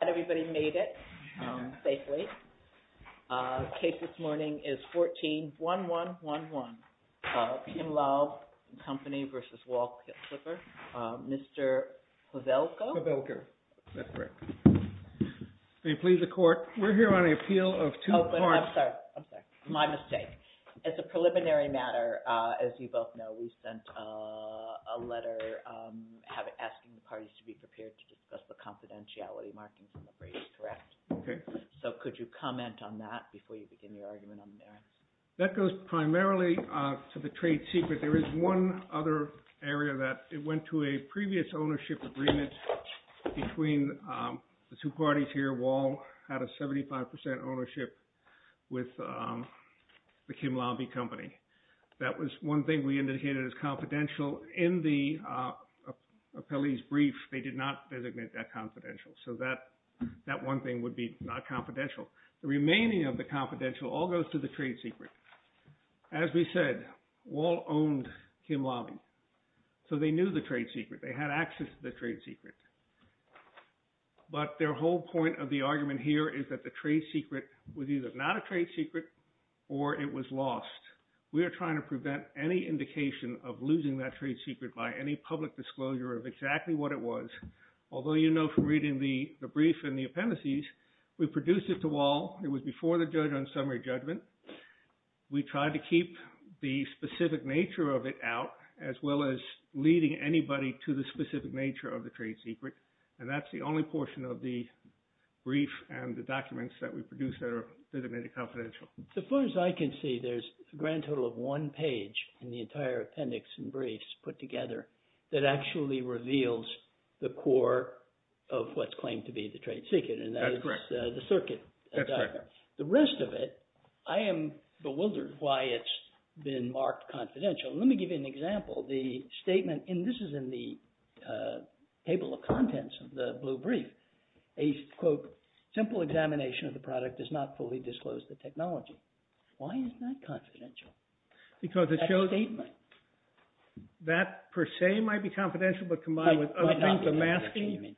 I hope everybody made it safely. The case this morning is 14-1111 of Kim Laube & Company v. Wahl Clipper. Mr. Pavelko? Pavelko. That's correct. May it please the Court, we're here on an appeal of two parts. I'm sorry, my mistake. As a preliminary matter, as you both know, we sent a letter asking the parties to be prepared to discuss the confidentiality markings in the briefs, correct? So could you comment on that before you begin your argument on the merits? That goes primarily to the trade secret. There is one other area that went to a previous ownership agreement between the two parties here. Wahl had a 75% ownership with the Kim Laube & Company. That was one thing we indicated as confidential. In the appellee's brief, they did not designate that confidential. So that one thing would be not confidential. The remaining of the confidential all goes to the trade secret. As we said, Wahl owned Kim Laube. So they knew the trade secret. They had access to the trade secret. But their whole point of the argument here is that the trade secret was either not a trade secret or it was lost. We are trying to prevent any indication of losing that trade secret by any public disclosure of exactly what it was. Although you know from reading the brief and the appendices, we produced it to Wahl. It was before the judge on summary judgment. We tried to keep the specific nature of it out as well as leading anybody to the specific nature of the trade secret. And that's the only portion of the brief and the documents that we produced that are made confidential. So far as I can see, there's a grand total of one page in the entire appendix and briefs put together that actually reveals the core of what's claimed to be the trade secret. That's correct. And that is the circuit. That's correct. The rest of it, I am bewildered why it's been marked confidential. Let me give you an example. The statement – and this is in the table of contents of the blue brief. A, quote, simple examination of the product does not fully disclose the technology. Why is that confidential? Because it shows – That statement. That per se might be confidential, but combined with other things. It might not be confidential, you mean.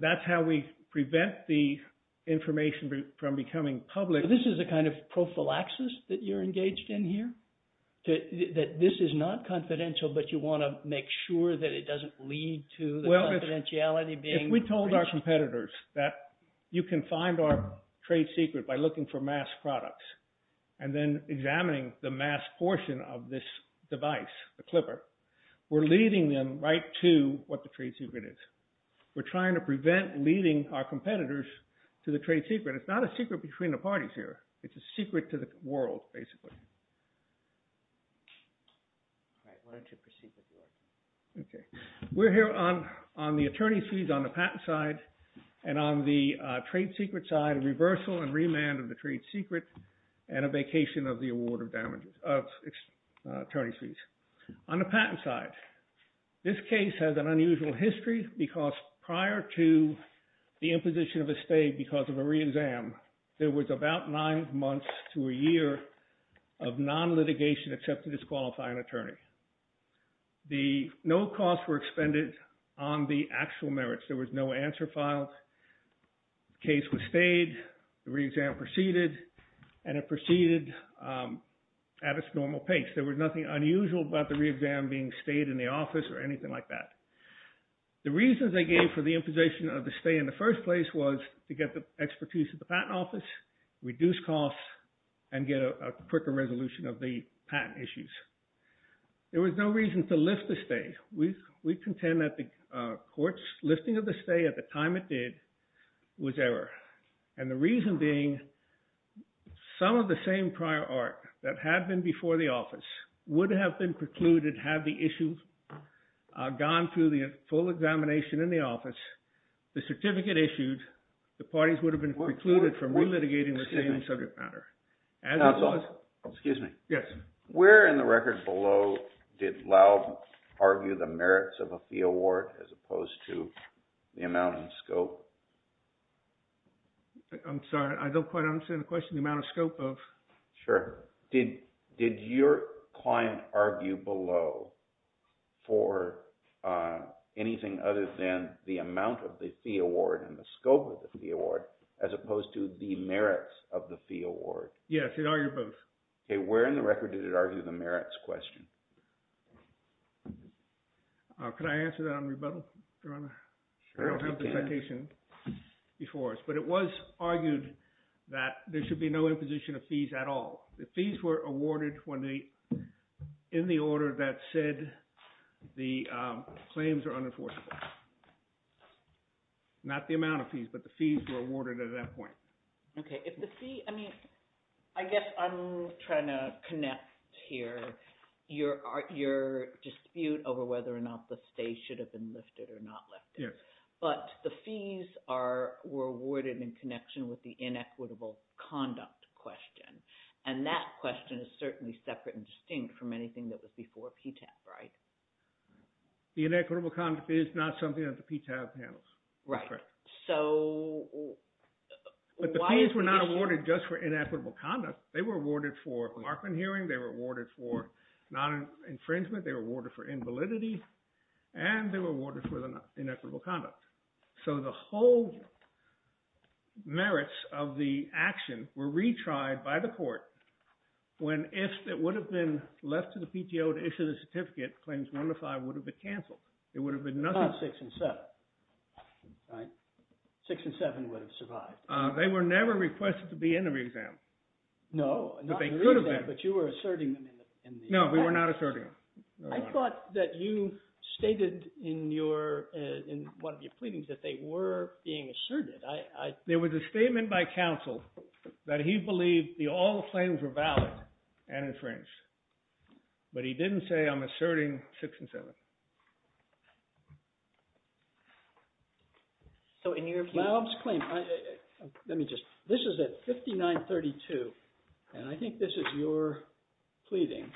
That's how we prevent the information from becoming public. So this is a kind of prophylaxis that you're engaged in here? That this is not confidential, but you want to make sure that it doesn't lead to the confidentiality being – Well, if we told our competitors that you can find our trade secret by looking for mass products and then examining the mass portion of this device, the clipper, we're leading them right to what the trade secret is. We're trying to prevent leading our competitors to the trade secret. It's not a secret between the parties here. It's a secret to the world, basically. All right. Why don't you proceed with your argument? Okay. We're here on the attorney's fees on the patent side, and on the trade secret side, a reversal and remand of the trade secret, and a vacation of the award of damages – of attorney's fees. On the patent side, this case has an unusual history because prior to the imposition of a stay because of a re-exam, there was about nine months to a year of non-litigation except to disqualify an attorney. No costs were expended on the actual merits. There was no answer filed. The case was stayed. The re-exam proceeded, and it proceeded at its normal pace. There was nothing unusual about the re-exam being stayed in the office or anything like that. The reasons they gave for the imposition of the stay in the first place was to get the expertise of the patent office, reduce costs, and get a quicker resolution of the patent issues. There was no reason to lift the stay. We contend that the court's lifting of the stay at the time it did was error. And the reason being some of the same prior art that had been before the office would have been precluded had the issue gone through the full examination in the office. The certificate issued, the parties would have been precluded from re-litigating the same subject matter. Excuse me. Yes. Where in the record below did Laub argue the merits of a fee award as opposed to the amount and scope? I'm sorry. I don't quite understand the question. The amount of scope of? Sure. Did your client argue below for anything other than the amount of the fee award and the scope of the fee award as opposed to the merits of the fee award? Yes. It argued both. Okay. Where in the record did it argue the merits question? Could I answer that on rebuttal? I don't have the citation before us. But it was argued that there should be no imposition of fees at all. The fees were awarded in the order that said the claims are unenforceable. Not the amount of fees, but the fees were awarded at that point. Okay. I guess I'm trying to connect here your dispute over whether or not the stay should have been lifted or not lifted. Yes. But the fees were awarded in connection with the inequitable conduct question. And that question is certainly separate and distinct from anything that was before PTAB, right? The inequitable conduct is not something that the PTAB handles. Right. Correct. But the fees were not awarded just for inequitable conduct. They were awarded for markman hearing. They were awarded for non-infringement. They were awarded for invalidity. And they were awarded for inequitable conduct. So the whole merits of the action were retried by the court when if it would have been left to the PTO to issue the certificate, claims 1 to 5 would have been canceled. It would have been nothing. About 6 and 7, right? 6 and 7 would have survived. They were never requested to be in the re-exam. No, not in the re-exam. But they could have been. But you were asserting them in the re-exam. No, we were not asserting them. I thought that you stated in one of your pleadings that they were being asserted. There was a statement by counsel that he believed the all claims were valid and infringed. But he didn't say I'm asserting 6 and 7. So in your view— Laub's claim—let me just—this is at 5932. And I think this is your pleading.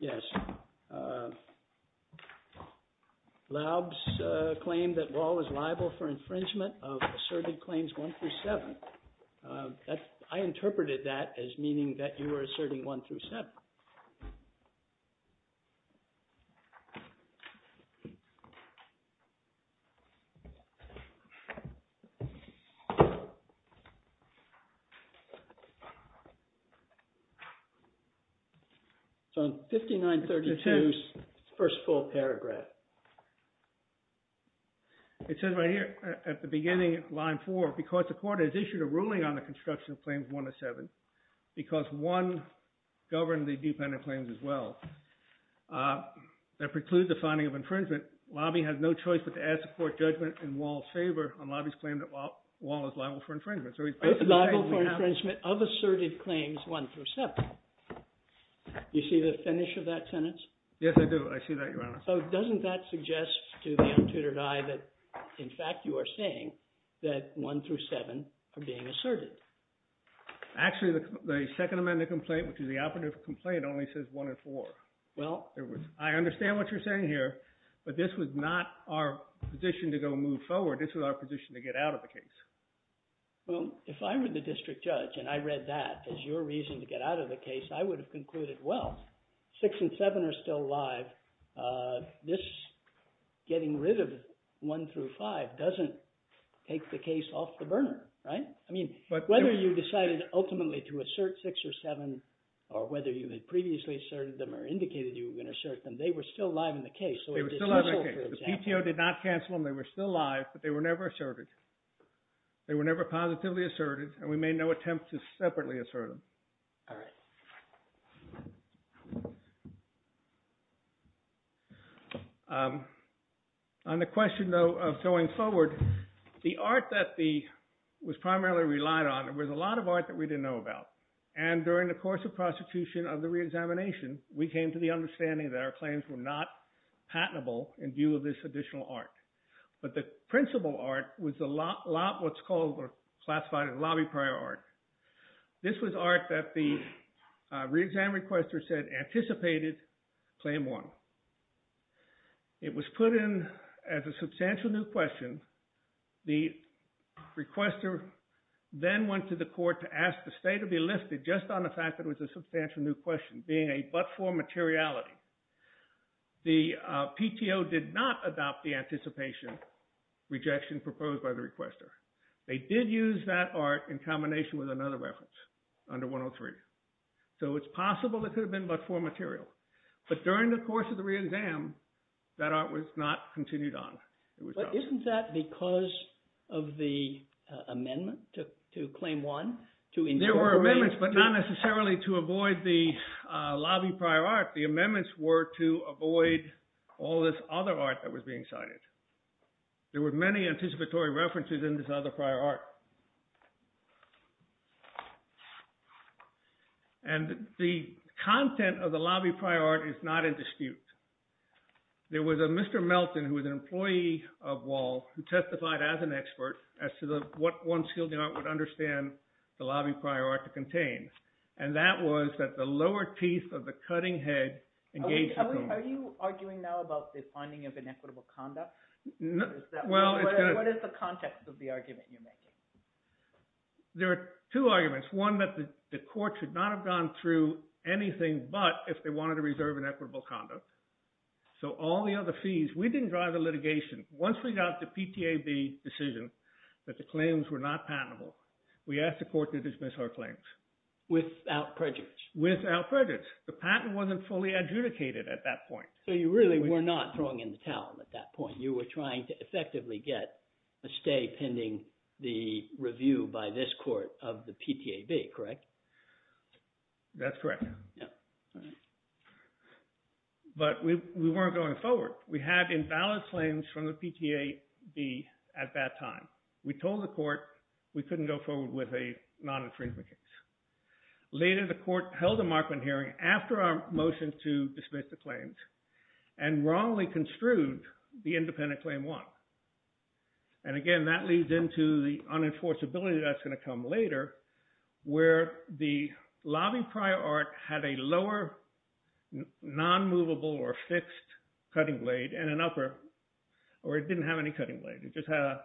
Yes. Laub's claim that Wall was liable for infringement of asserted claims 1 through 7. I interpreted that as meaning that you were asserting 1 through 7. So 5932's first full paragraph. It says right here at the beginning of line 4, because the court has issued a ruling on the construction of claims 1 to 7, because 1 governed the dependent claims as well. That precludes the finding of infringement. Laubie has no choice but to ask the court judgment in Wall's favor on Laubie's claim that Wall is liable for infringement. So he's— Liable for infringement of asserted claims 1 through 7. You see the finish of that sentence? Yes, I do. I see that, Your Honor. So doesn't that suggest to the untutored eye that, in fact, you are saying that 1 through 7 are being asserted? Actually, the Second Amendment complaint, which is the operative complaint, only says 1 and 4. Well— I understand what you're saying here, but this was not our position to go move forward. This was our position to get out of the case. Well, if I were the district judge and I read that as your reason to get out of the case, I would have concluded, well, 6 and 7 are still alive. This getting rid of 1 through 5 doesn't take the case off the burner, right? I mean, whether you decided ultimately to assert 6 or 7 or whether you had previously asserted them or indicated you were going to assert them, they were still alive in the case. They were still alive in the case. The PTO did not cancel them. They were still alive, but they were never asserted. They were never positively asserted, and we made no attempt to separately assert them. All right. On the question, though, of going forward, the art that was primarily relied on was a lot of art that we didn't know about, and during the course of prosecution of the reexamination, we came to the understanding that our claims were not patentable in view of this additional art. But the principal art was what's called or classified as lobby prayer art. This was art that the reexamination requester said anticipated claim 1. It was put in as a substantial new question. The requester then went to the court to ask the state to be lifted just on the fact that it was a substantial new question being a but-for materiality. The PTO did not adopt the anticipation rejection proposed by the requester. They did use that art in combination with another reference under 103. So it's possible it could have been but-for material, but during the course of the reexam, that art was not continued on. Isn't that because of the amendment to claim 1? There were amendments, but not necessarily to avoid the lobby prayer art. The amendments were to avoid all this other art that was being cited. There were many anticipatory references in this other prior art. And the content of the lobby prayer art is not in dispute. There was a Mr. Melton who was an employee of Wahl who testified as an expert as to what one skilled art would understand the lobby prayer art to contain. And that was that the lower teeth of the cutting head engaged the cone. Are you arguing now about the finding of inequitable conduct? What is the context of the argument you're making? There are two arguments. One, that the court should not have gone through anything but if they wanted to reserve inequitable conduct. So all the other fees, we didn't drive the litigation. Once we got the PTAB decision that the claims were not patentable, we asked the court to dismiss our claims. Without prejudice. Without prejudice. The patent wasn't fully adjudicated at that point. So you really were not throwing in the towel at that point. You were trying to effectively get a stay pending the review by this court of the PTAB, correct? That's correct. All right. But we weren't going forward. We had invalid claims from the PTAB at that time. We told the court we couldn't go forward with a non-infringement case. Later, the court held a markman hearing after our motion to dismiss the claims and wrongly construed the independent claim one. And again, that leads into the unenforceability that's going to come later where the lobby prior art had a lower non-movable or fixed cutting blade and an upper, or it didn't have any cutting blade. It just had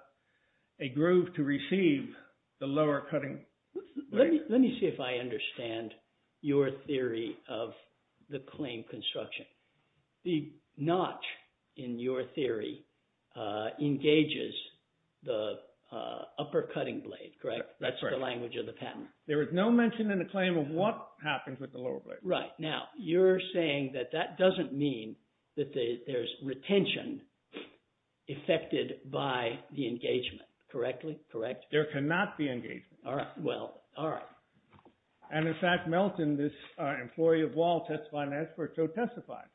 a groove to receive the lower cutting blade. Let me see if I understand your theory of the claim construction. The notch in your theory engages the upper cutting blade, correct? That's the language of the patent. There is no mention in the claim of what happens with the lower blade. Right. Now, you're saying that that doesn't mean that there's retention affected by the engagement, correctly? Correct? There cannot be engagement. All right. Well, all right. And in fact, Melton, this employee of Wall, testified and asked for it, so testified.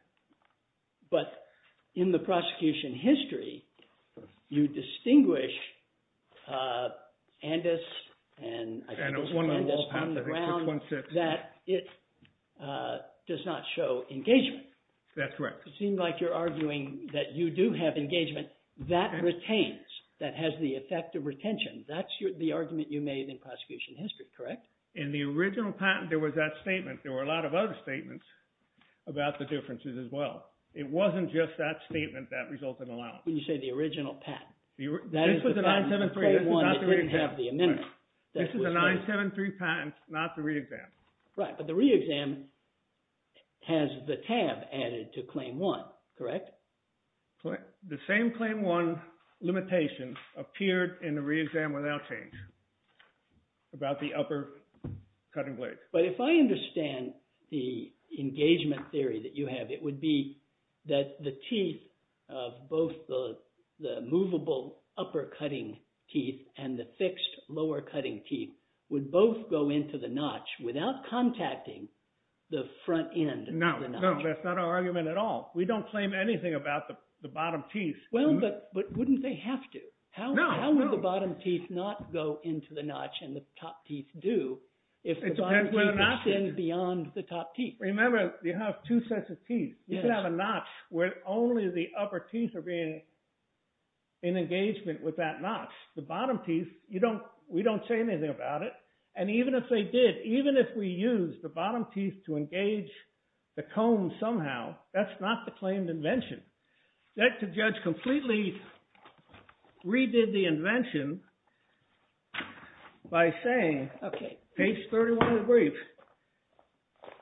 But in the prosecution history, you distinguish Andis and I think it was Andis on the ground that it does not show engagement. That's correct. It seems like you're arguing that you do have engagement that retains, that has the effect of retention. That's the argument you made in prosecution history, correct? In the original patent, there was that statement. There were a lot of other statements about the differences as well. It wasn't just that statement that resulted in allowance. When you say the original patent. This was a 973 claim one that didn't have the amendment. This is a 973 patent, not the re-exam. Right. But the re-exam has the tab added to claim one, correct? The same claim one limitation appeared in the re-exam without change about the upper cutting blade. But if I understand the engagement theory that you have, it would be that the teeth of both the movable upper cutting teeth and the fixed lower cutting teeth would both go into the notch without contacting the front end of the notch. No, no. That's not our argument at all. We don't claim anything about the bottom teeth. Well, but wouldn't they have to? No, no. How would the bottom teeth not go into the notch and the top teeth do if the bottom teeth extend beyond the top teeth? Remember, you have two sets of teeth. You could have a notch where only the upper teeth are being in engagement with that notch. The bottom teeth, we don't say anything about it. And even if they did, even if we used the bottom teeth to engage the comb somehow, that's not the claimed invention. The executive judge completely redid the invention by saying, page 31 of the brief,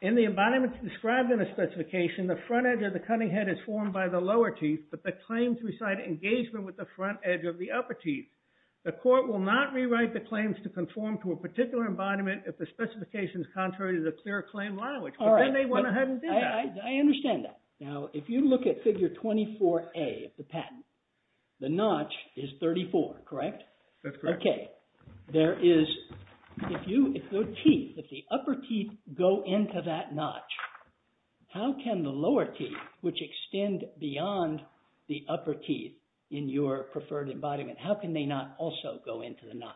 in the embodiments described in the specification, the front edge of the cutting head is formed by the lower teeth, but the claims recite engagement with the front edge of the upper teeth. The court will not rewrite the claims to conform to a particular embodiment if the specification is contrary to the clear claim language. But then they went ahead and did that. I understand that. Now, if you look at figure 24A of the patent, the notch is 34, correct? That's correct. Okay. There is, if you, if the teeth, if the upper teeth go into that notch, how can the lower teeth, which extend beyond the upper teeth in your preferred embodiment, how can they not also go into the notch?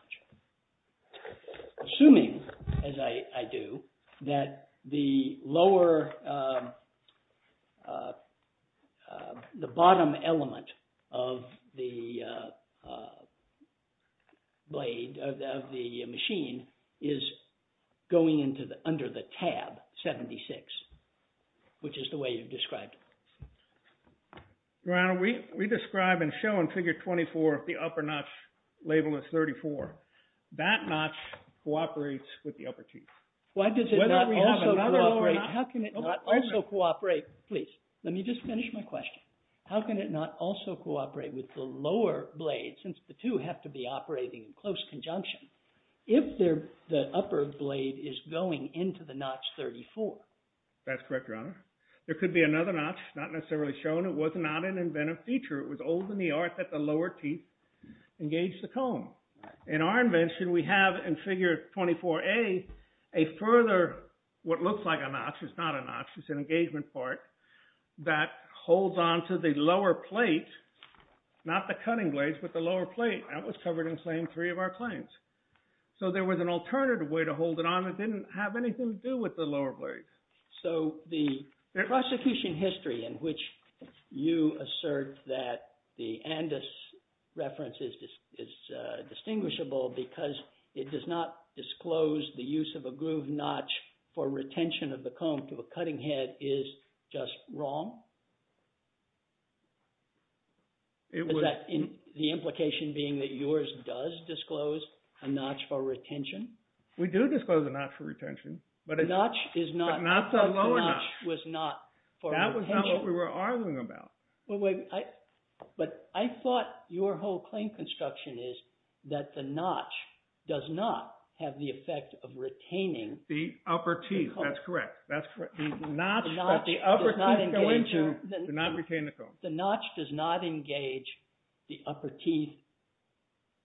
Assuming, as I do, that the lower, the bottom element of the blade, of the machine, is going under the tab 76, which is the way you've described it. Your Honor, we describe and show in figure 24 the upper notch labeled as 34. That notch cooperates with the upper teeth. Why does it not also cooperate? How can it not also cooperate? Please, let me just finish my question. How can it not also cooperate with the lower blade, since the two have to be operating in close conjunction, if the upper blade is going into the notch 34? That's correct, Your Honor. There could be another notch, not necessarily shown. It was not an inventive feature. It was old in the art that the lower teeth engage the comb. In our invention, we have in figure 24A a further, what looks like a notch, it's not a notch, it's an engagement part, that holds onto the lower plate, not the cutting blades, but the lower plate. That was covered in flame three of our claims. So there was an alternative way to hold it on that didn't have anything to do with the lower blades. So the prosecution history in which you assert that the Andis reference is distinguishable because it does not disclose the use of a groove notch for retention of the comb to a cutting head is just wrong? The implication being that yours does disclose a notch for retention? We do disclose a notch for retention. But not the lower notch. That was not what we were arguing about. But I thought your whole claim construction is that the notch does not have the effect of retaining the comb. The upper teeth, that's correct. The notch that the upper teeth go into does not retain the comb. The notch does not engage the upper teeth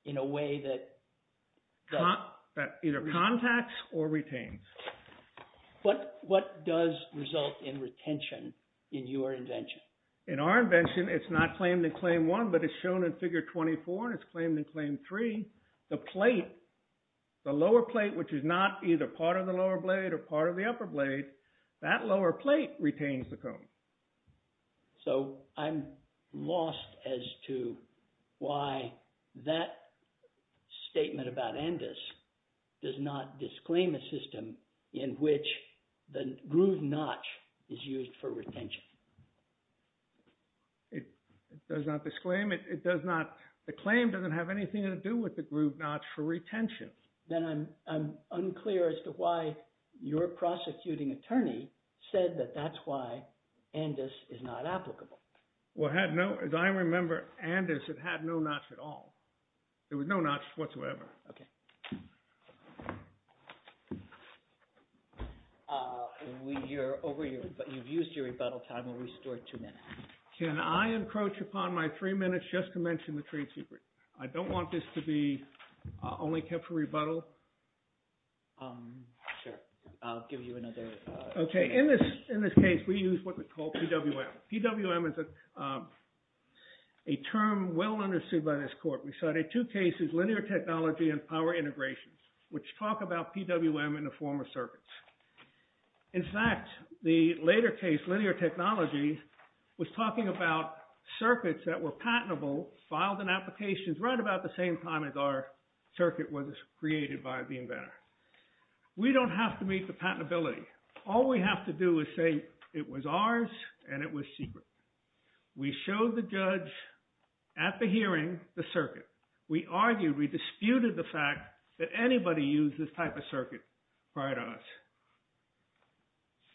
in a way that either contacts or retains. But what does result in retention in your invention? In our invention, it's not claimed in claim one, but it's shown in figure 24 and it's claimed in claim three. The plate, the lower plate, which is not either part of the lower blade or part of the upper blade, that lower plate retains the comb. So I'm lost as to why that statement about Andis does not disclaim a system in which the groove notch is used for retention. It does not disclaim it. It does not. The claim doesn't have anything to do with the groove notch for retention. Then I'm unclear as to why your prosecuting attorney said that that's why Andis is not applicable. Well, as I remember, Andis, it had no notch at all. There was no notch whatsoever. Okay. You've used your rebuttal time and restored two minutes. Can I encroach upon my three minutes just to mention the trade secret? I don't want this to be only kept for rebuttal. Sure. I'll give you another. Okay. In this case, we use what we call PWM. PWM is a term well understood by this court. We cited two cases, linear technology and power integration, which talk about PWM in the form of circuits. In fact, the later case, linear technology, was talking about circuits that were patentable, filed in applications right about the same time as our circuit was created by the inventor. We don't have to meet the patentability. All we have to do is say it was ours and it was secret. We showed the judge at the hearing the circuit. We argued, we disputed the fact that anybody used this type of circuit prior to us.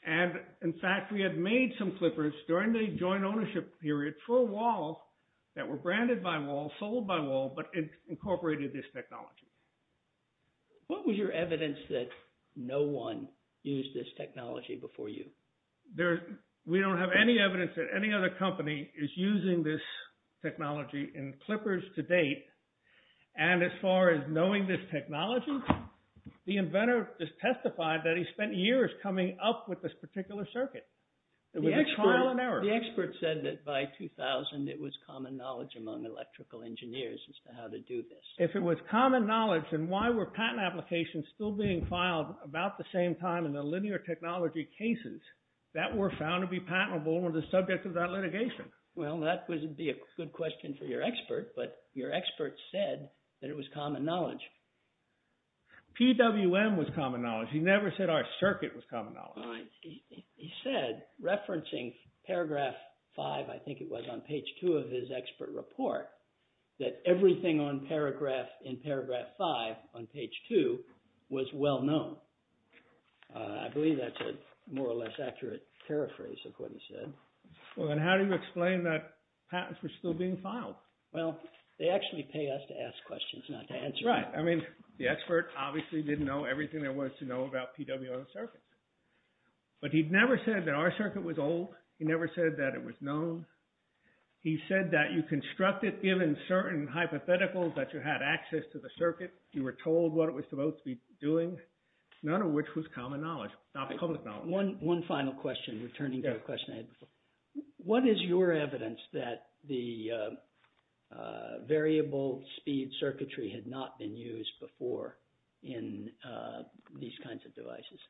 And, in fact, we had made some clippers during the joint ownership period for a wall that were branded by wall, sold by wall, but incorporated this technology. What was your evidence that no one used this technology before you? We don't have any evidence that any other company is using this technology in clippers to date. And as far as knowing this technology, the inventor just testified that he spent years coming up with this particular circuit. It was trial and error. The expert said that by 2000, it was common knowledge among electrical engineers as to how to do this. If it was common knowledge, then why were patent applications still being filed about the same time in the linear technology cases that were found to be patentable and were the subject of that litigation? Well, that would be a good question for your expert, but your expert said that it was common knowledge. PWM was common knowledge. He never said our circuit was common knowledge. He said, referencing paragraph 5, I think it was, on page 2 of his expert report, that everything in paragraph 5 on page 2 was well known. I believe that's a more or less accurate paraphrase of what he said. Well, then how do you explain that patents were still being filed? Well, they actually pay us to ask questions, not to answer them. That's right. I mean, the expert obviously didn't know everything there was to know about PWM circuits. But he never said that our circuit was old. He never said that it was known. He said that you construct it given certain hypotheticals that you had access to the circuit. You were told what it was supposed to be doing, none of which was common knowledge, not public knowledge. One final question, returning to a question I had before. What is your evidence that the variable speed circuitry had not been used before in these kinds of devices?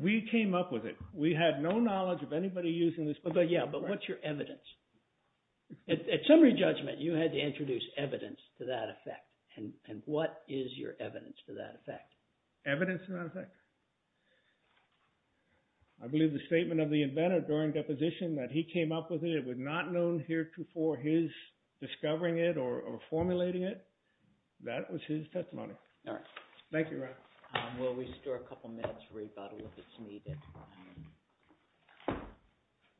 We came up with it. We had no knowledge of anybody using this before. Yeah, but what's your evidence? At summary judgment, you had to introduce evidence to that effect. And what is your evidence to that effect? I believe the statement of the inventor during deposition that he came up with it, it was not known heretofore his discovering it or formulating it. That was his testimony. All right. Thank you, Ron. We'll restore a couple minutes for rebuttal if it's needed.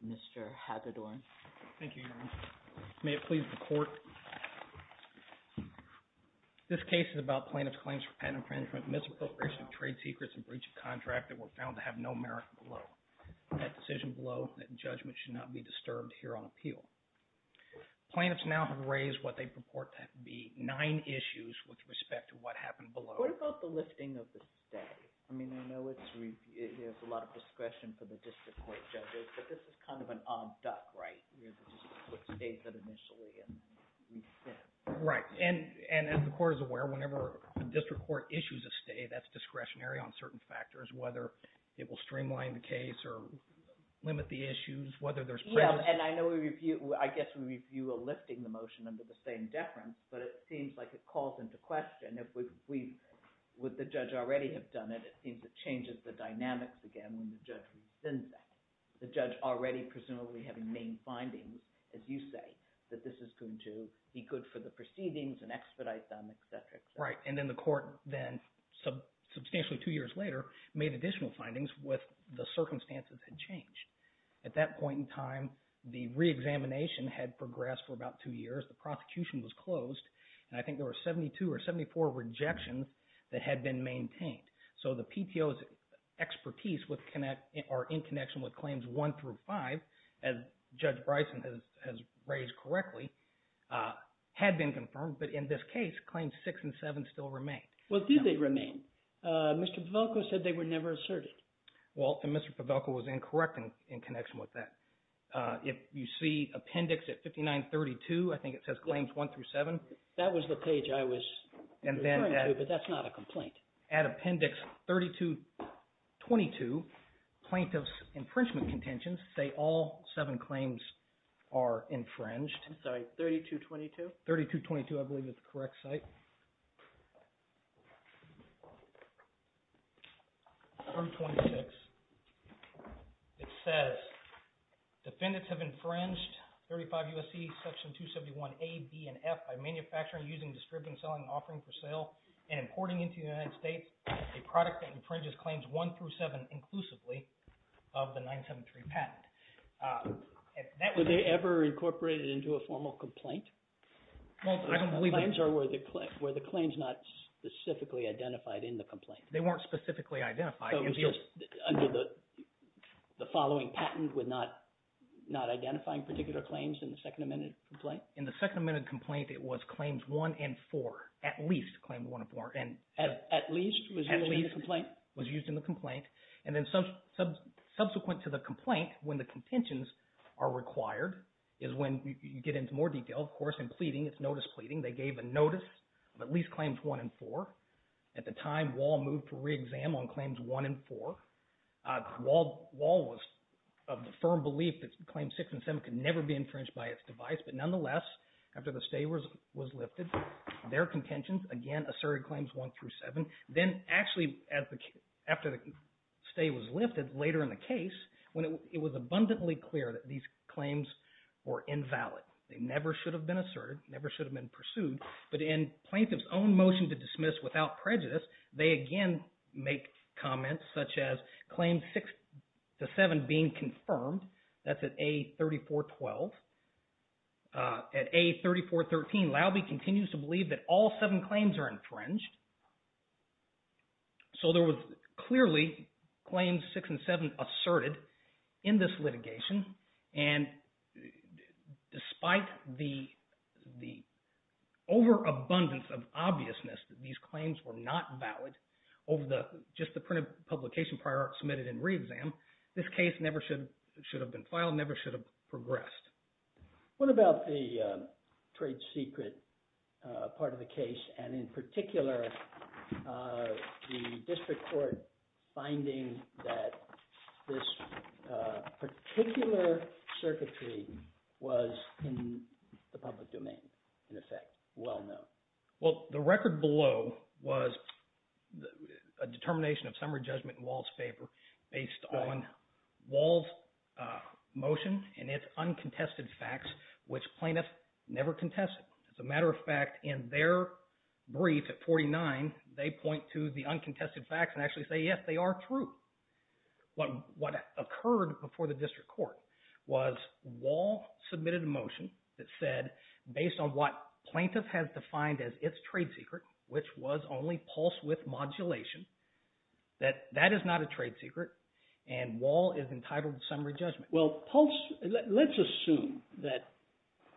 Mr. Hagedorn. Thank you, Your Honor. May it please the Court. This case is about plaintiff's claims for patent infringement, misappropriation of trade secrets, and breach of contract that were found to have no merit below. That decision below, that judgment should not be disturbed here on appeal. Plaintiffs now have raised what they purport to be nine issues with respect to what happened below. What about the lifting of the stay? I mean, I know there's a lot of discretion for the district court judges, but this is kind of an odd duck, right? Right. And as the Court is aware, whenever a district court issues a stay, that's discretionary on certain factors, whether it will streamline the case or limit the issues, whether there's prejudice. Yeah, and I know we review – I guess we review a lifting the motion under the same deference, but it seems like it calls into question if we – would the judge already have done it? It seems it changes the dynamics again when the judge rescinds that. The judge already presumably having made findings, as you say, that this is going to be good for the proceedings and expedite them, et cetera. Right, and then the Court then substantially two years later made additional findings with the circumstances that changed. At that point in time, the reexamination had progressed for about two years. The prosecution was closed, and I think there were 72 or 74 rejections that had been maintained. So the PTO's expertise with – or in connection with Claims 1 through 5, as Judge Bryson has raised correctly, had been confirmed. But in this case, Claims 6 and 7 still remained. Well, did they remain? Mr. Pavelko said they were never asserted. Well, and Mr. Pavelko was incorrect in connection with that. If you see appendix at 5932, I think it says Claims 1 through 7. That was the page I was referring to, but that's not a complaint. At appendix 3222, Plaintiffs' Infringement Contentions say all seven claims are infringed. I'm sorry, 3222? 3222, I believe is the correct site. 3226, it says defendants have infringed 35 U.S.C. Section 271A, B, and F by manufacturing, using, distributing, selling, and offering for sale and importing into the United States a product that infringes Claims 1 through 7 inclusively of the 973 patent. Were they ever incorporated into a formal complaint? The claims are where the claims not specifically identified in the complaint. They weren't specifically identified. So it was just under the following patent with not identifying particular claims in the Second Amendment complaint? In the Second Amendment complaint, it was Claims 1 and 4, at least Claims 1 and 4. At least was used in the complaint? Subsequent to the complaint, when the contentions are required, is when you get into more detail, of course, in pleading. It's notice pleading. They gave a notice of at least Claims 1 and 4. At the time, Wahl moved to re-exam on Claims 1 and 4. Wahl was of the firm belief that Claims 6 and 7 could never be infringed by its device. But nonetheless, after the stay was lifted, their contentions, again, asserted Claims 1 through 7. Then actually, after the stay was lifted later in the case, it was abundantly clear that these claims were invalid. They never should have been asserted, never should have been pursued. But in plaintiff's own motion to dismiss without prejudice, they again make comments such as Claims 6 to 7 being confirmed. That's at A3412. At A3413, Laube continues to believe that all seven claims are infringed. So there was clearly Claims 6 and 7 asserted in this litigation. And despite the overabundance of obviousness that these claims were not valid over just the printed publication prior submitted in re-exam, this case never should have been filed, never should have progressed. What about the trade secret part of the case, and in particular, the district court finding that this particular circuitry was in the public domain, in effect, well known? Well, the record below was a determination of summary judgment in Wall's favor based on Wall's motion and its uncontested facts, which plaintiffs never contested. As a matter of fact, in their brief at 49, they point to the uncontested facts and actually say, yes, they are true. What occurred before the district court was Wall submitted a motion that said, based on what plaintiff has defined as its trade secret, which was only pulse-width modulation, that that is not a trade secret, and Wall is entitled to summary judgment. Well, let's assume that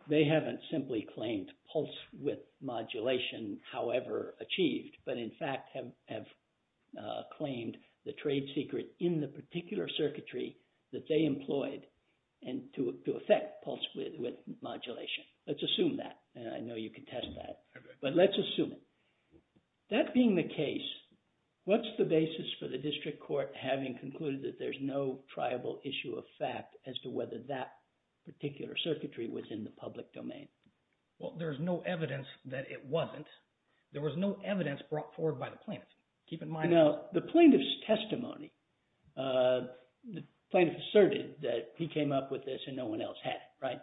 they haven't simply claimed pulse-width modulation, however achieved, but in fact have claimed the trade secret in the particular circuitry that they employed to effect pulse-width modulation. Let's assume that, and I know you can test that. But let's assume it. That being the case, what's the basis for the district court having concluded that there's no triable issue of fact as to whether that particular circuitry was in the public domain? Well, there's no evidence that it wasn't. There was no evidence brought forward by the plaintiff. Keep in mind— Now, the plaintiff's testimony, the plaintiff asserted that he came up with this and no one else had it, right?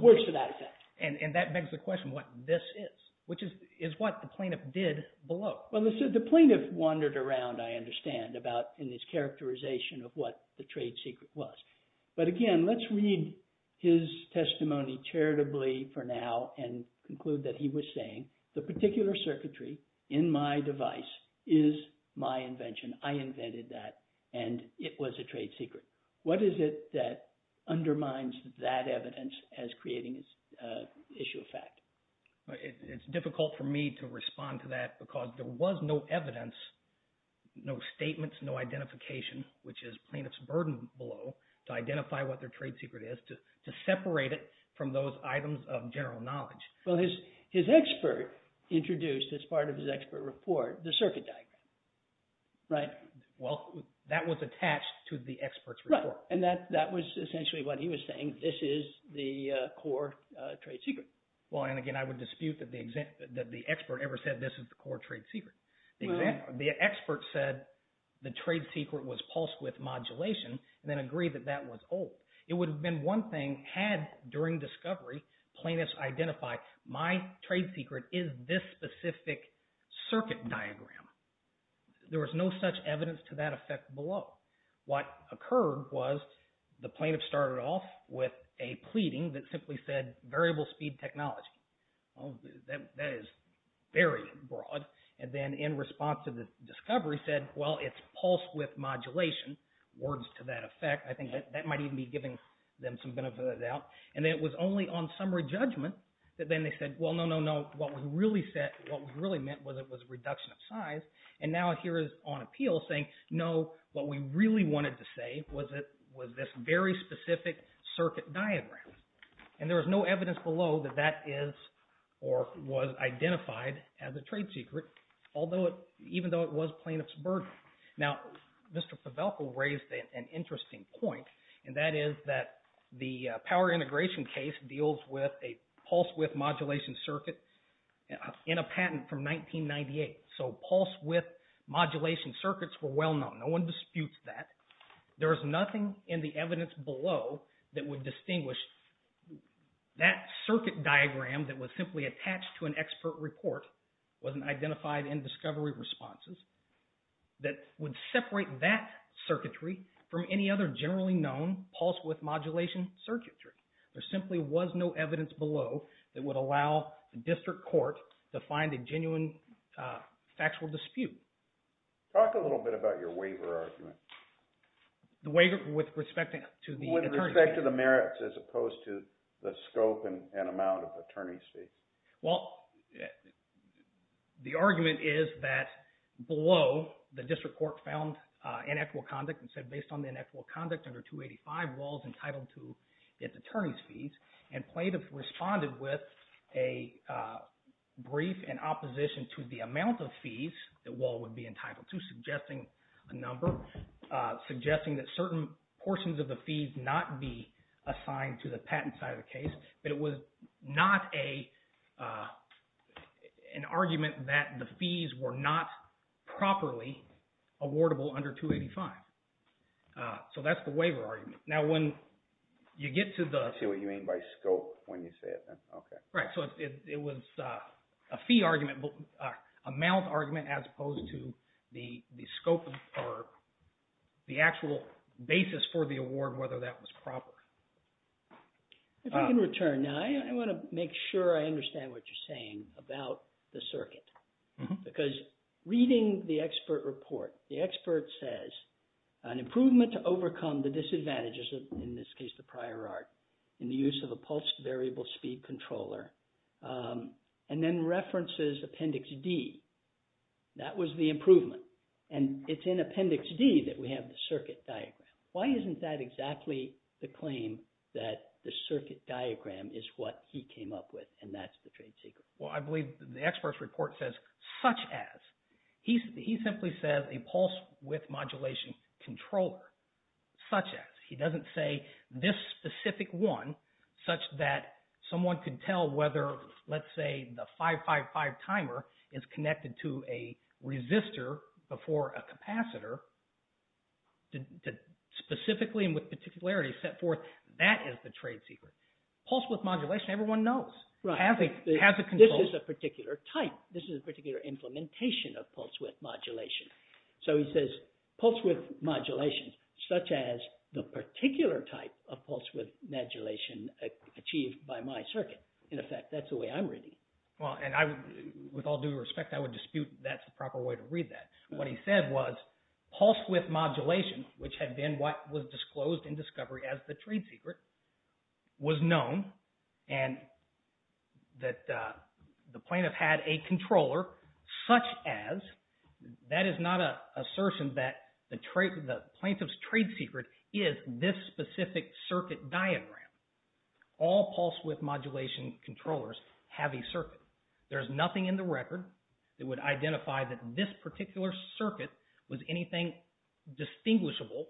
Worse to that effect. And that begs the question what this is, which is what the plaintiff did below. Well, the plaintiff wandered around, I understand, about in his characterization of what the trade secret was. But again, let's read his testimony charitably for now and conclude that he was saying the particular circuitry in my device is my invention. I invented that, and it was a trade secret. What is it that undermines that evidence as creating issue of fact? It's difficult for me to respond to that because there was no evidence, no statements, no identification, which is plaintiff's burden below to identify what their trade secret is, to separate it from those items of general knowledge. Well, his expert introduced as part of his expert report the circuit diagram, right? Well, that was attached to the expert's report. Right, and that was essentially what he was saying. This is the core trade secret. Well, and again, I would dispute that the expert ever said this is the core trade secret. The expert said the trade secret was pulsed with modulation and then agreed that that was old. It would have been one thing had, during discovery, plaintiffs identified my trade secret is this specific circuit diagram. There was no such evidence to that effect below. What occurred was the plaintiff started off with a pleading that simply said variable speed technology. Well, that is very broad. And then in response to the discovery said, well, it's pulsed with modulation, words to that effect. I think that might even be giving them some benefit of the doubt. And it was only on summary judgment that then they said, well, no, no, no, what we really meant was it was a reduction of size. And now here is on appeal saying, no, what we really wanted to say was this very specific circuit diagram. And there was no evidence below that that is or was identified as a trade secret, even though it was plaintiff's burden. Now, Mr. Pavelko raised an interesting point, and that is that the power integration case deals with a pulse width modulation circuit in a patent from 1998. So pulse width modulation circuits were well known. No one disputes that. There is nothing in the evidence below that would distinguish that circuit diagram that was simply attached to an expert report, wasn't identified in discovery responses, that would separate that circuitry from any other generally known pulse width modulation circuitry. There simply was no evidence below that would allow the district court to find a genuine factual dispute. Talk a little bit about your waiver argument. The waiver with respect to the attorney's fees. With respect to the merits as opposed to the scope and amount of attorney's fees. Well, the argument is that below the district court found inequitable conduct and said based on the inequitable conduct under 285, Wahl is entitled to its attorney's fees. And plaintiff responded with a brief in opposition to the amount of fees that Wahl would be entitled to, suggesting a number, suggesting that certain portions of the fees not be assigned to the patent side of the case. But it was not an argument that the fees were not properly awardable under 285. So that's the waiver argument. Now when you get to the… I see what you mean by scope when you say it then. Okay. Right. So it was a fee argument, amount argument as opposed to the scope or the actual basis for the award, whether that was proper. If I can return now, I want to make sure I understand what you're saying about the circuit. Because reading the expert report, the expert says an improvement to overcome the disadvantages, in this case the prior art, in the use of a pulsed variable speed controller, and then references Appendix D. That was the improvement. And it's in Appendix D that we have the circuit diagram. Why isn't that exactly the claim that the circuit diagram is what he came up with and that's the trade secret? Well, I believe the expert's report says, such as. He simply says a pulse width modulation controller, such as. He doesn't say this specific one, such that someone could tell whether, let's say, the 555 timer is connected to a resistor before a capacitor, specifically and with particularity set forth. That is the trade secret. Pulse width modulation, everyone knows. This is a particular type. This is a particular implementation of pulse width modulation. So he says pulse width modulation, such as the particular type of pulse width modulation achieved by my circuit. In effect, that's the way I'm reading it. Well, and with all due respect, I would dispute that's the proper way to read that. What he said was pulse width modulation, which had been what was disclosed in discovery as the trade secret, was known and that the plaintiff had a controller, such as. That is not an assertion that the plaintiff's trade secret is this specific circuit diagram. All pulse width modulation controllers have a circuit. There's nothing in the record that would identify that this particular circuit was anything distinguishable.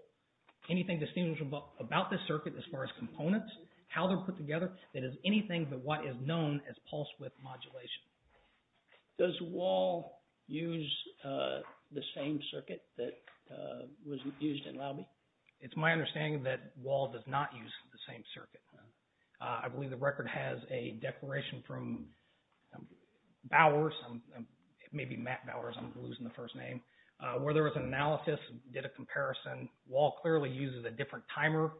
Anything distinguishable about this circuit as far as components, how they're put together, that is anything but what is known as pulse width modulation. Does Wahl use the same circuit that was used in Laube? It's my understanding that Wahl does not use the same circuit. I believe the record has a declaration from Bowers, maybe Matt Bowers, I'm losing the first name, where there was an analysis, did a comparison. Wahl clearly uses a different timer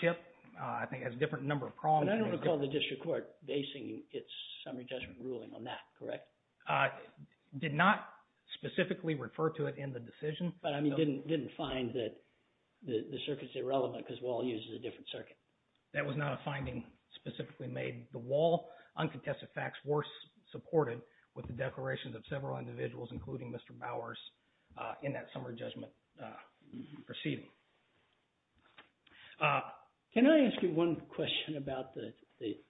chip. I think it has a different number of prongs. And I don't recall the district court basing its summary judgment ruling on that, correct? Did not specifically refer to it in the decision. But I didn't find that the circuit's irrelevant because Wahl uses a different circuit. That was not a finding specifically made. The Wahl uncontested facts were supported with the declarations of several individuals, including Mr. Bowers, in that summary judgment proceeding. Can I ask you one question about the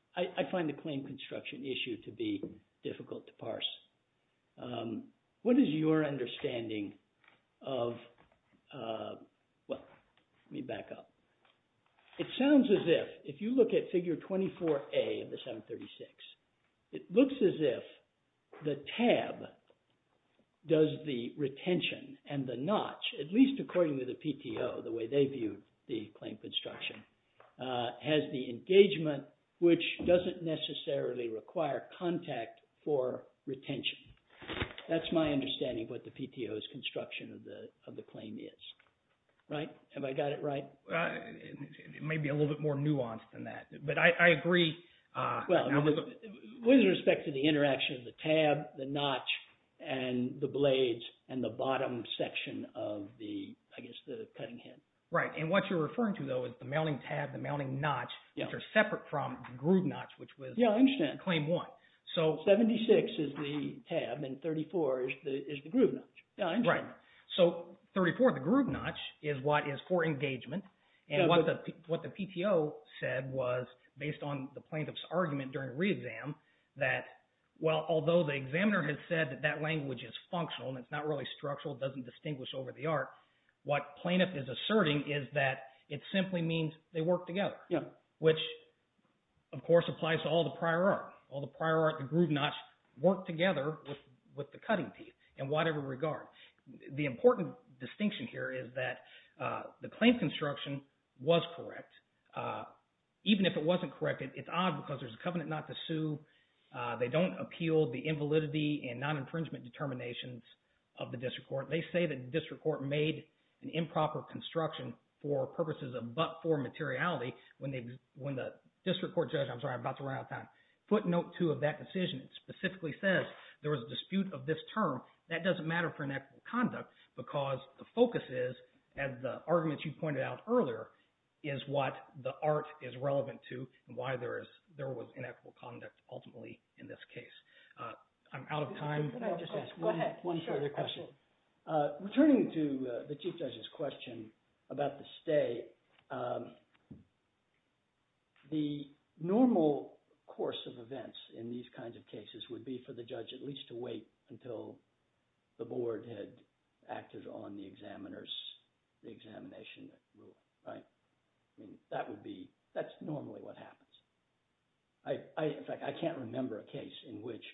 – I find the claim construction issue to be difficult to parse. What is your understanding of – well, let me back up. It sounds as if, if you look at figure 24A of the 736, it looks as if the tab does the retention and the notch, at least according to the PTO, the way they viewed the claim construction, has the engagement, which doesn't necessarily require contact for retention. That's my understanding of what the PTO's construction of the claim is. Right? Have I got it right? It may be a little bit more nuanced than that, but I agree. Well, with respect to the interaction of the tab, the notch, and the blades, and the bottom section of the, I guess, the cutting head. Right, and what you're referring to, though, is the mounting tab, the mounting notch, which are separate from the groove notch, which was – Yeah, I understand. Claim one. So – 76 is the tab, and 34 is the groove notch. Yeah, I understand. Right. So 34, the groove notch, is what is for engagement. And what the PTO said was, based on the plaintiff's argument during re-exam, that, well, although the examiner has said that that language is functional and it's not really structural, doesn't distinguish over the art, what plaintiff is asserting is that it simply means they work together, which, of course, applies to all the prior art. All the prior art, the groove notch, work together with the cutting teeth in whatever regard. The important distinction here is that the claim construction was correct. Even if it wasn't correct, it's odd because there's a covenant not to sue. They don't appeal the invalidity and non-infringement determinations of the district court. They say that the district court made an improper construction for purposes of but-for materiality when the district court judge – I'm sorry. I'm about to run out of time. Footnote 2 of that decision specifically says there was a dispute of this term. That doesn't matter for inequitable conduct because the focus is, as the arguments you pointed out earlier, is what the art is relevant to and why there was inequitable conduct ultimately in this case. I'm out of time. Can I just ask one further question? Sure. Returning to the chief judge's question about the stay, the normal course of events in these kinds of cases would be for the judge at least to wait until the board had acted on the examiner's examination rule. That would be – that's normally what happens. In fact, I can't remember a case in which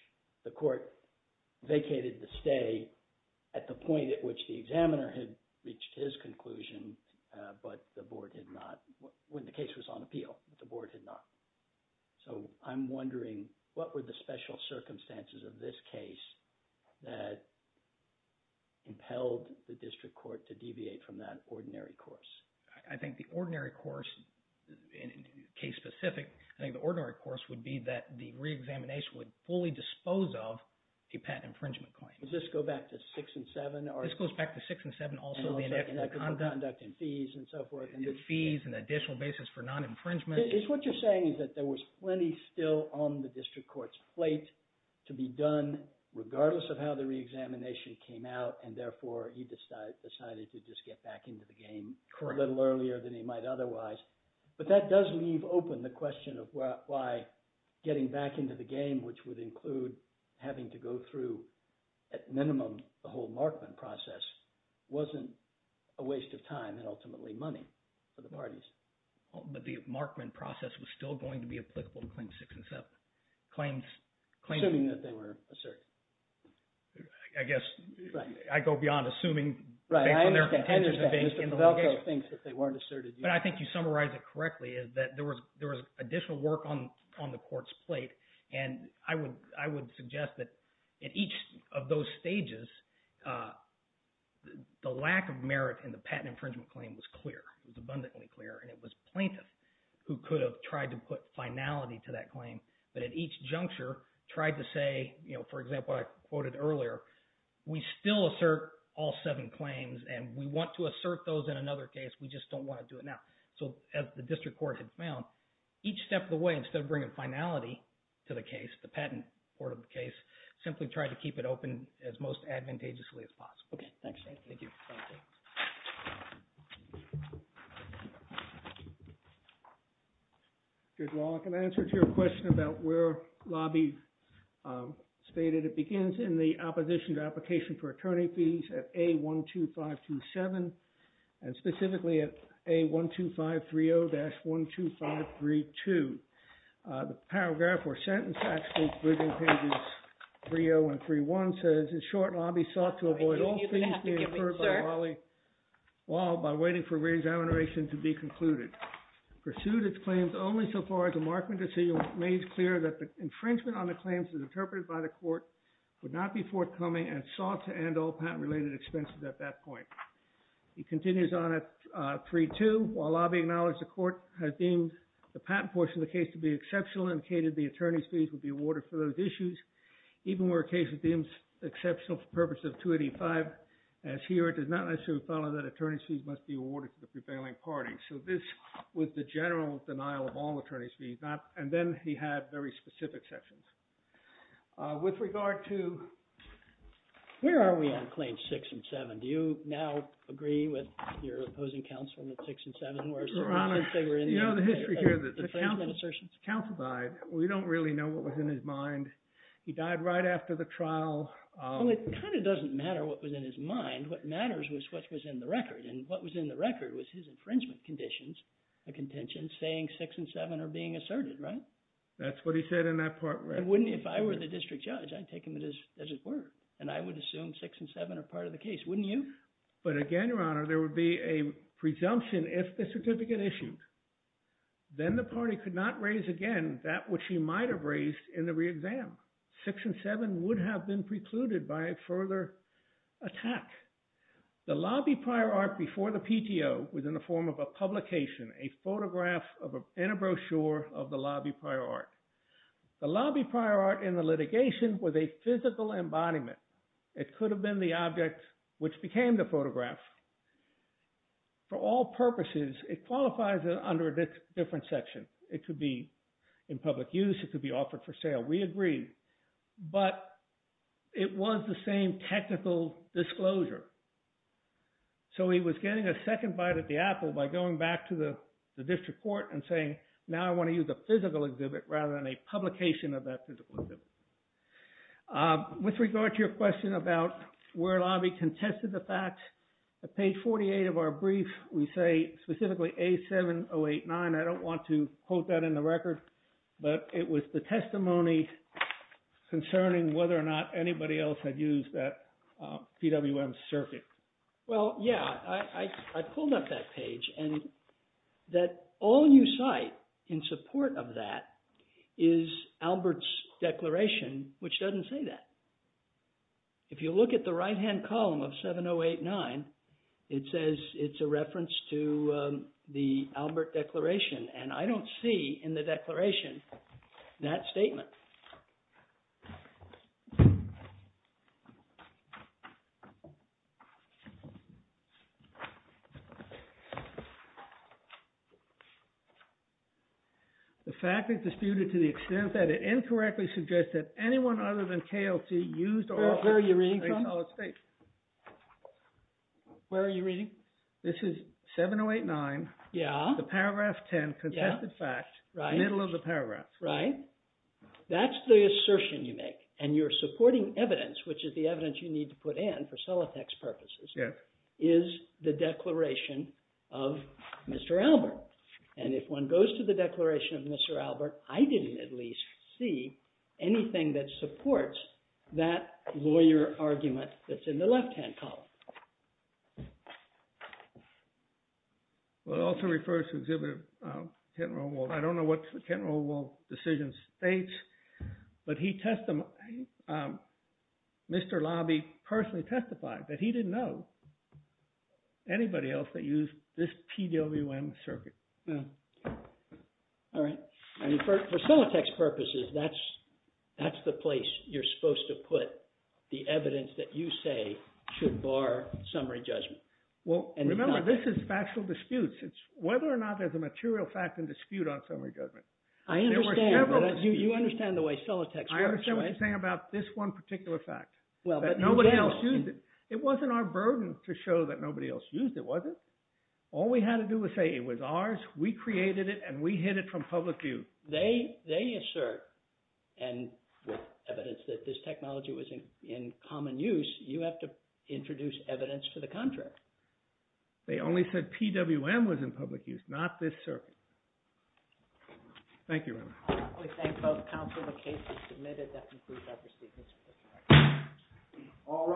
the court vacated the stay at the point at which the examiner had reached his conclusion, but the board had not – when the case was on appeal, but the board had not. So I'm wondering what were the special circumstances of this case that impelled the district court to deviate from that ordinary course? I think the ordinary course, case specific, I think the ordinary course would be that the reexamination would fully dispose of a patent infringement claim. Does this go back to 6 and 7? This goes back to 6 and 7 also. Inequitable conduct and fees and so forth. Fees and additional basis for non-infringement. What you're saying is that there was plenty still on the district court's plate to be done regardless of how the reexamination came out, and therefore he decided to just get back into the game a little earlier than he might otherwise. But that does leave open the question of why getting back into the game, which would include having to go through at minimum the whole Markman process, wasn't a waste of time and ultimately money for the parties. But the Markman process was still going to be applicable to claims 6 and 7. Assuming that they were asserted. I guess I go beyond assuming. Right. Mr. Pavelko thinks that they weren't asserted. But I think you summarized it correctly is that there was additional work on the court's plate, and I would suggest that at each of those stages, the lack of merit in the patent infringement claim was clear. It was abundantly clear, and it was plaintiffs who could have tried to put finality to that claim. But at each juncture tried to say, for example, I quoted earlier, we still assert all seven claims and we want to assert those in another case. We just don't want to do it now. So as the district court had found, each step of the way, instead of bringing finality to the case, the patent court of the case, simply tried to keep it open as most advantageously as possible. Thank you. Thank you. Good. Well, I can answer to your question about where lobby stated it begins in the opposition to application for attorney fees at a 1, 2, 5, 2, 7, and specifically at a 1, 2, 5, 3, 0 dash 1, 2, 5, 3, 2. The paragraph or sentence actually within pages 3.0 and 3.1 says, in short, lobby sought to avoid all fees being incurred by Wally Wall by waiting for reexamination to be concluded. Pursued its claims only so far as a markman decision made clear that the infringement on the claims as interpreted by the court would not be forthcoming and sought to end all patent related expenses at that point. He continues on at 3.2. While lobby acknowledged the court has deemed the patent portion of the case to be exceptional and indicated the attorney's fees would be awarded for those issues. Even where a case is deemed exceptional for purpose of 285, as here it does not necessarily follow that attorney's fees must be awarded to the prevailing party. So this was the general denial of all attorney's fees. And then he had very specific sections. With regard to. Where are we on claims 6 and 7? Do you now agree with your opposing counsel on the 6 and 7? Your Honor, you know the history here that the counsel died. We don't really know what was in his mind. He died right after the trial. Well, it kind of doesn't matter what was in his mind. What matters was what was in the record. And what was in the record was his infringement conditions, a contention saying 6 and 7 are being asserted, right? That's what he said in that part. If I were the district judge, I'd take him at his word. And I would assume 6 and 7 are part of the case, wouldn't you? But again, Your Honor, there would be a presumption if the certificate issued. Then the party could not raise again that which he might have raised in the re-exam. 6 and 7 would have been precluded by a further attack. The lobby prior art before the PTO was in the form of a publication, a photograph and a brochure of the lobby prior art. The lobby prior art in the litigation was a physical embodiment. It could have been the object which became the photograph. For all purposes, it qualifies under a different section. It could be in public use. It could be offered for sale. We agree. But it was the same technical disclosure. So he was getting a second bite at the apple by going back to the district court and saying, now I want to use a physical exhibit rather than a publication of that physical exhibit. With regard to your question about where lobby contested the facts, at page 48 of our brief, we say specifically A7089. I don't want to quote that in the record. But it was the testimony concerning whether or not anybody else had used that PWM circuit. Well, yeah. I pulled up that page. And that all you cite in support of that is Albert's declaration, which doesn't say that. If you look at the right-hand column of 7089, it says it's a reference to the Albert declaration. And I don't see in the declaration that statement. The fact is disputed to the extent that it incorrectly suggests that anyone other than KLT used or offered a solid state. Where are you reading from? Where are you reading? This is 7089. Yeah. The paragraph 10 contested fact, middle of the paragraph. Right. That's the assertion you make. And you're supporting evidence, which is the evidence you need to put in for Solitec's purposes, is the declaration of Mr. Albert. And if one goes to the declaration of Mr. Albert, I didn't at least see anything that supports that lawyer argument that's in the left-hand column. Well, it also refers to Exhibit 10. I don't know what the 10 rule decision states. But he testified, Mr. Lobby personally testified that he didn't know anybody else that used this PWM circuit. All right. For Solitec's purposes, that's the place you're supposed to put the evidence that you say should bar summary judgment. Well, remember, this is factual disputes. It's whether or not there's a material fact and dispute on summary judgment. I understand. There were several disputes. You understand the way Solitec works, right? I understand what you're saying about this one particular fact, that nobody else used it. It wasn't our burden to show that nobody else used it, was it? All we had to do was say it was ours, we created it, and we hid it from public view. They assert, and with evidence that this technology was in common use, you have to introduce evidence to the contrary. They only said PWM was in public use, not this circuit. Thank you very much. We thank both counsel. The case is submitted. That concludes our proceedings. All rise.